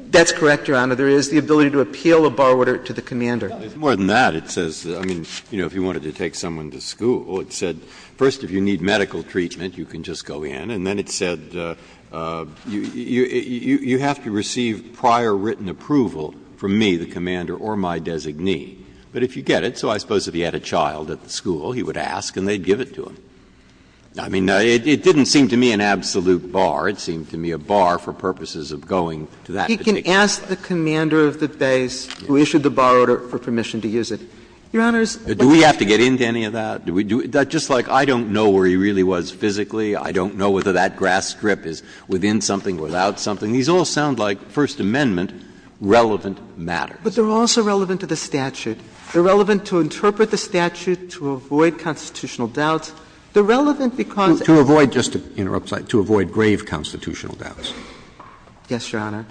That's correct, Your Honor. There is the ability to appeal a bar order to the commander. More than that, it says, I mean, you know, if you wanted to take someone to school, it said, first, if you need medical treatment, you can just go in. And then it said, you have to receive prior written approval from me, the commander, or my designee. But if you get it, so I suppose if he had a child at the school, he would ask and they'd give it to him. I mean, it didn't seem to me an absolute bar. It seemed to me a bar for purposes of going to that particular place. He can ask the commander of the base who issued the bar order for permission Your Honor, it's a question of whether he's allowed to use it. Do we have to get into any of that? Do we do it? Just like I don't know where he really was physically, I don't know whether that grass strip is within something, without something, these all sound like First Amendment relevant matters. But they're also relevant to the statute. They're relevant to interpret the statute, to avoid constitutional doubts. They're relevant because To avoid, just to interrupt, sorry, to avoid grave constitutional doubts. Yes, Your Honor.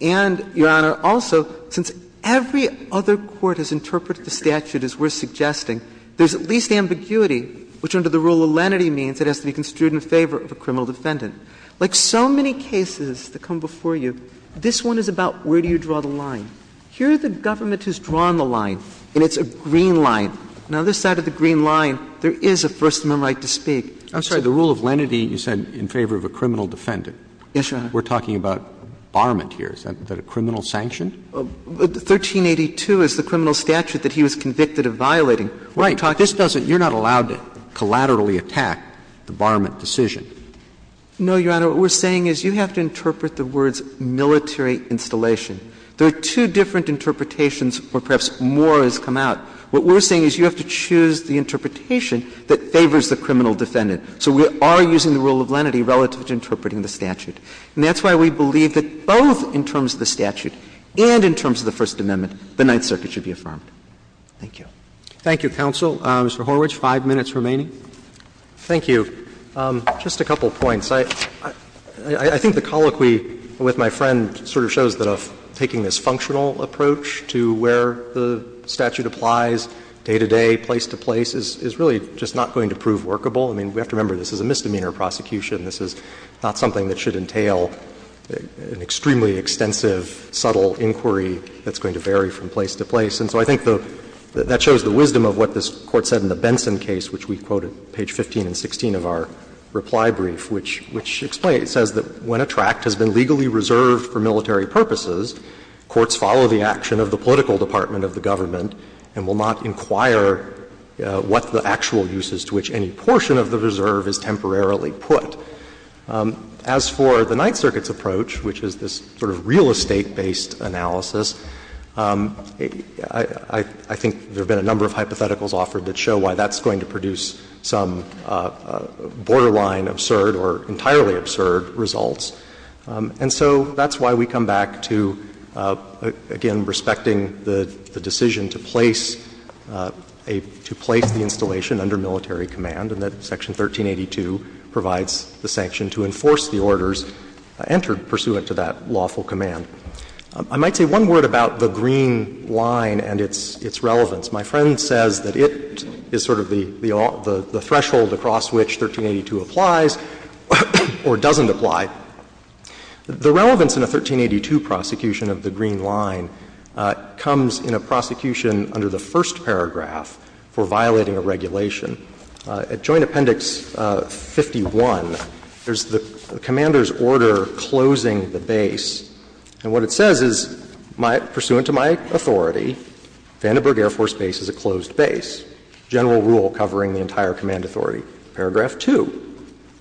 And, Your Honor, also, since every other court has interpreted the statute as we're talking about the rule of lenity, which under the rule of lenity means it has to be construed in favor of a criminal defendant, like so many cases that come before you, this one is about where do you draw the line. Here the government has drawn the line, and it's a green line. Now, this side of the green line, there is a First Amendment right to speak. I'm sorry, the rule of lenity, you said in favor of a criminal defendant. Yes, Your Honor. We're talking about barment here. Is that a criminal sanction? 1382 is the criminal statute that he was convicted of violating. Right. You're not allowed to collaterally attack the barment decision. No, Your Honor. What we're saying is you have to interpret the words military installation. There are two different interpretations, or perhaps more has come out. What we're saying is you have to choose the interpretation that favors the criminal defendant. So we are using the rule of lenity relative to interpreting the statute. And that's why we believe that both in terms of the statute and in terms of the First Amendment, the Ninth Circuit should be affirmed. Thank you. Roberts. Thank you, counsel. Mr. Horwich, five minutes remaining. Horwich. Thank you. Just a couple of points. I think the colloquy with my friend sort of shows that taking this functional approach to where the statute applies, day-to-day, place-to-place, is really just not going to prove workable. I mean, we have to remember this is a misdemeanor prosecution. This is not something that should entail an extremely extensive, subtle inquiry that's going to vary from place to place. And so I think that shows the wisdom of what this Court said in the Benson case, which we quoted page 15 and 16 of our reply brief, which explains, says that when a tract has been legally reserved for military purposes, courts follow the action of the political department of the government and will not inquire what the actual use is to which any portion of the reserve is temporarily put. As for the Ninth Circuit's approach, which is this sort of real estate-based analysis, I think there have been a number of hypotheticals offered that show why that's going to produce some borderline absurd or entirely absurd results. And so that's why we come back to, again, respecting the decision to place a — to a military command, and that Section 1382 provides the sanction to enforce the orders entered pursuant to that lawful command. I might say one word about the green line and its relevance. My friend says that it is sort of the threshold across which 1382 applies or doesn't apply. The relevance in a 1382 prosecution of the green line comes in a prosecution under the first paragraph for violating a regulation. At Joint Appendix 51, there's the commander's order closing the base. And what it says is, pursuant to my authority, Vandenberg Air Force Base is a closed base. General rule covering the entire command authority. Paragraph 2,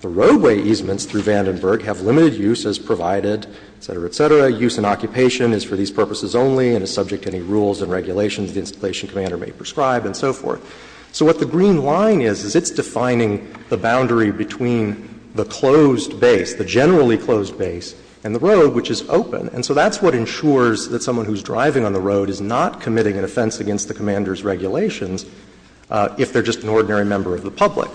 the roadway easements through Vandenberg have limited use as provided, et cetera, et cetera. Use and occupation is for these purposes only and is subject to any rules and regulations the installation commander may prescribe and so forth. So what the green line is, is it's defining the boundary between the closed base, the generally closed base, and the road, which is open. And so that's what ensures that someone who's driving on the road is not committing an offense against the commander's regulations if they're just an ordinary member of the public.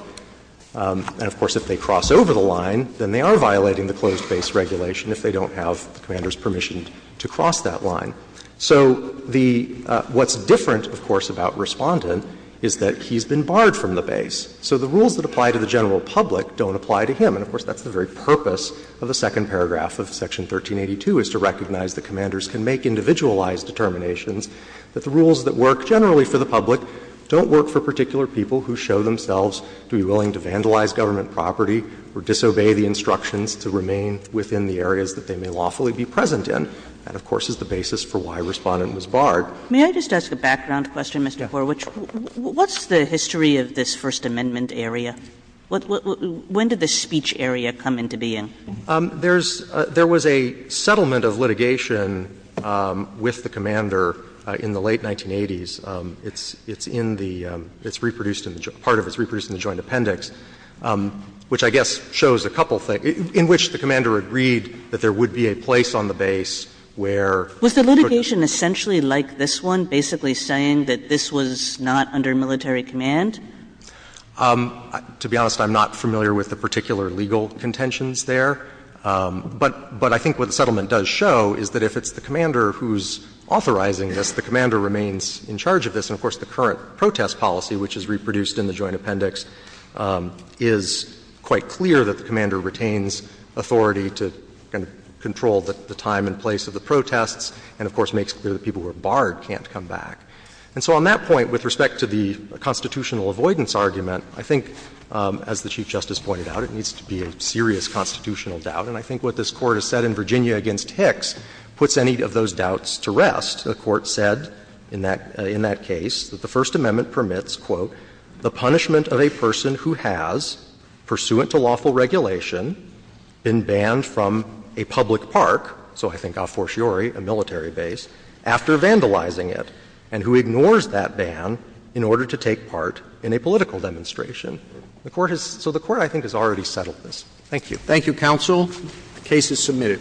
And, of course, if they cross over the line, then they are violating the closed base regulation if they don't have the commander's permission to cross that line. So the — what's different, of course, about Respondent is that he's been barred from the base. So the rules that apply to the general public don't apply to him. And, of course, that's the very purpose of the second paragraph of Section 1382, is to recognize that commanders can make individualized determinations, that the rules that work generally for the public don't work for particular people who show themselves to be willing to vandalize government property or disobey the instructions to remain within the areas that they may lawfully be present in. That, of course, is the basis for why Respondent was barred. Kagan. May I just ask a background question, Mr. Horwich? What's the history of this First Amendment area? When did this speech area come into being? There's — there was a settlement of litigation with the commander in the late 1980s. It's in the — it's reproduced in the — part of it's reproduced in the joint appendix, which I guess shows a couple of things, in which the commander agreed that there would be a place on the base where — Was the litigation essentially like this one, basically saying that this was not under military command? To be honest, I'm not familiar with the particular legal contentions there. But I think what the settlement does show is that if it's the commander who's authorizing this, the commander remains in charge of this. And, of course, the current protest policy, which is reproduced in the joint appendix, is quite clear that the commander retains authority to kind of control the time and place of the protests, and, of course, makes clear that people who are barred can't come back. And so on that point, with respect to the constitutional avoidance argument, I think, as the Chief Justice pointed out, it needs to be a serious constitutional doubt. And I think what this Court has said in Virginia against Hicks puts any of those doubts to rest. The Court said in that — in that case that the First Amendment permits, quote, the punishment of a person who has, pursuant to lawful regulation, been banned from a public park, so I think a fortiori, a military base, after vandalizing it, and who ignores that ban in order to take part in a political demonstration. The Court has — so the Court, I think, has already settled this. Thank you. Roberts. Thank you, counsel. The case is submitted.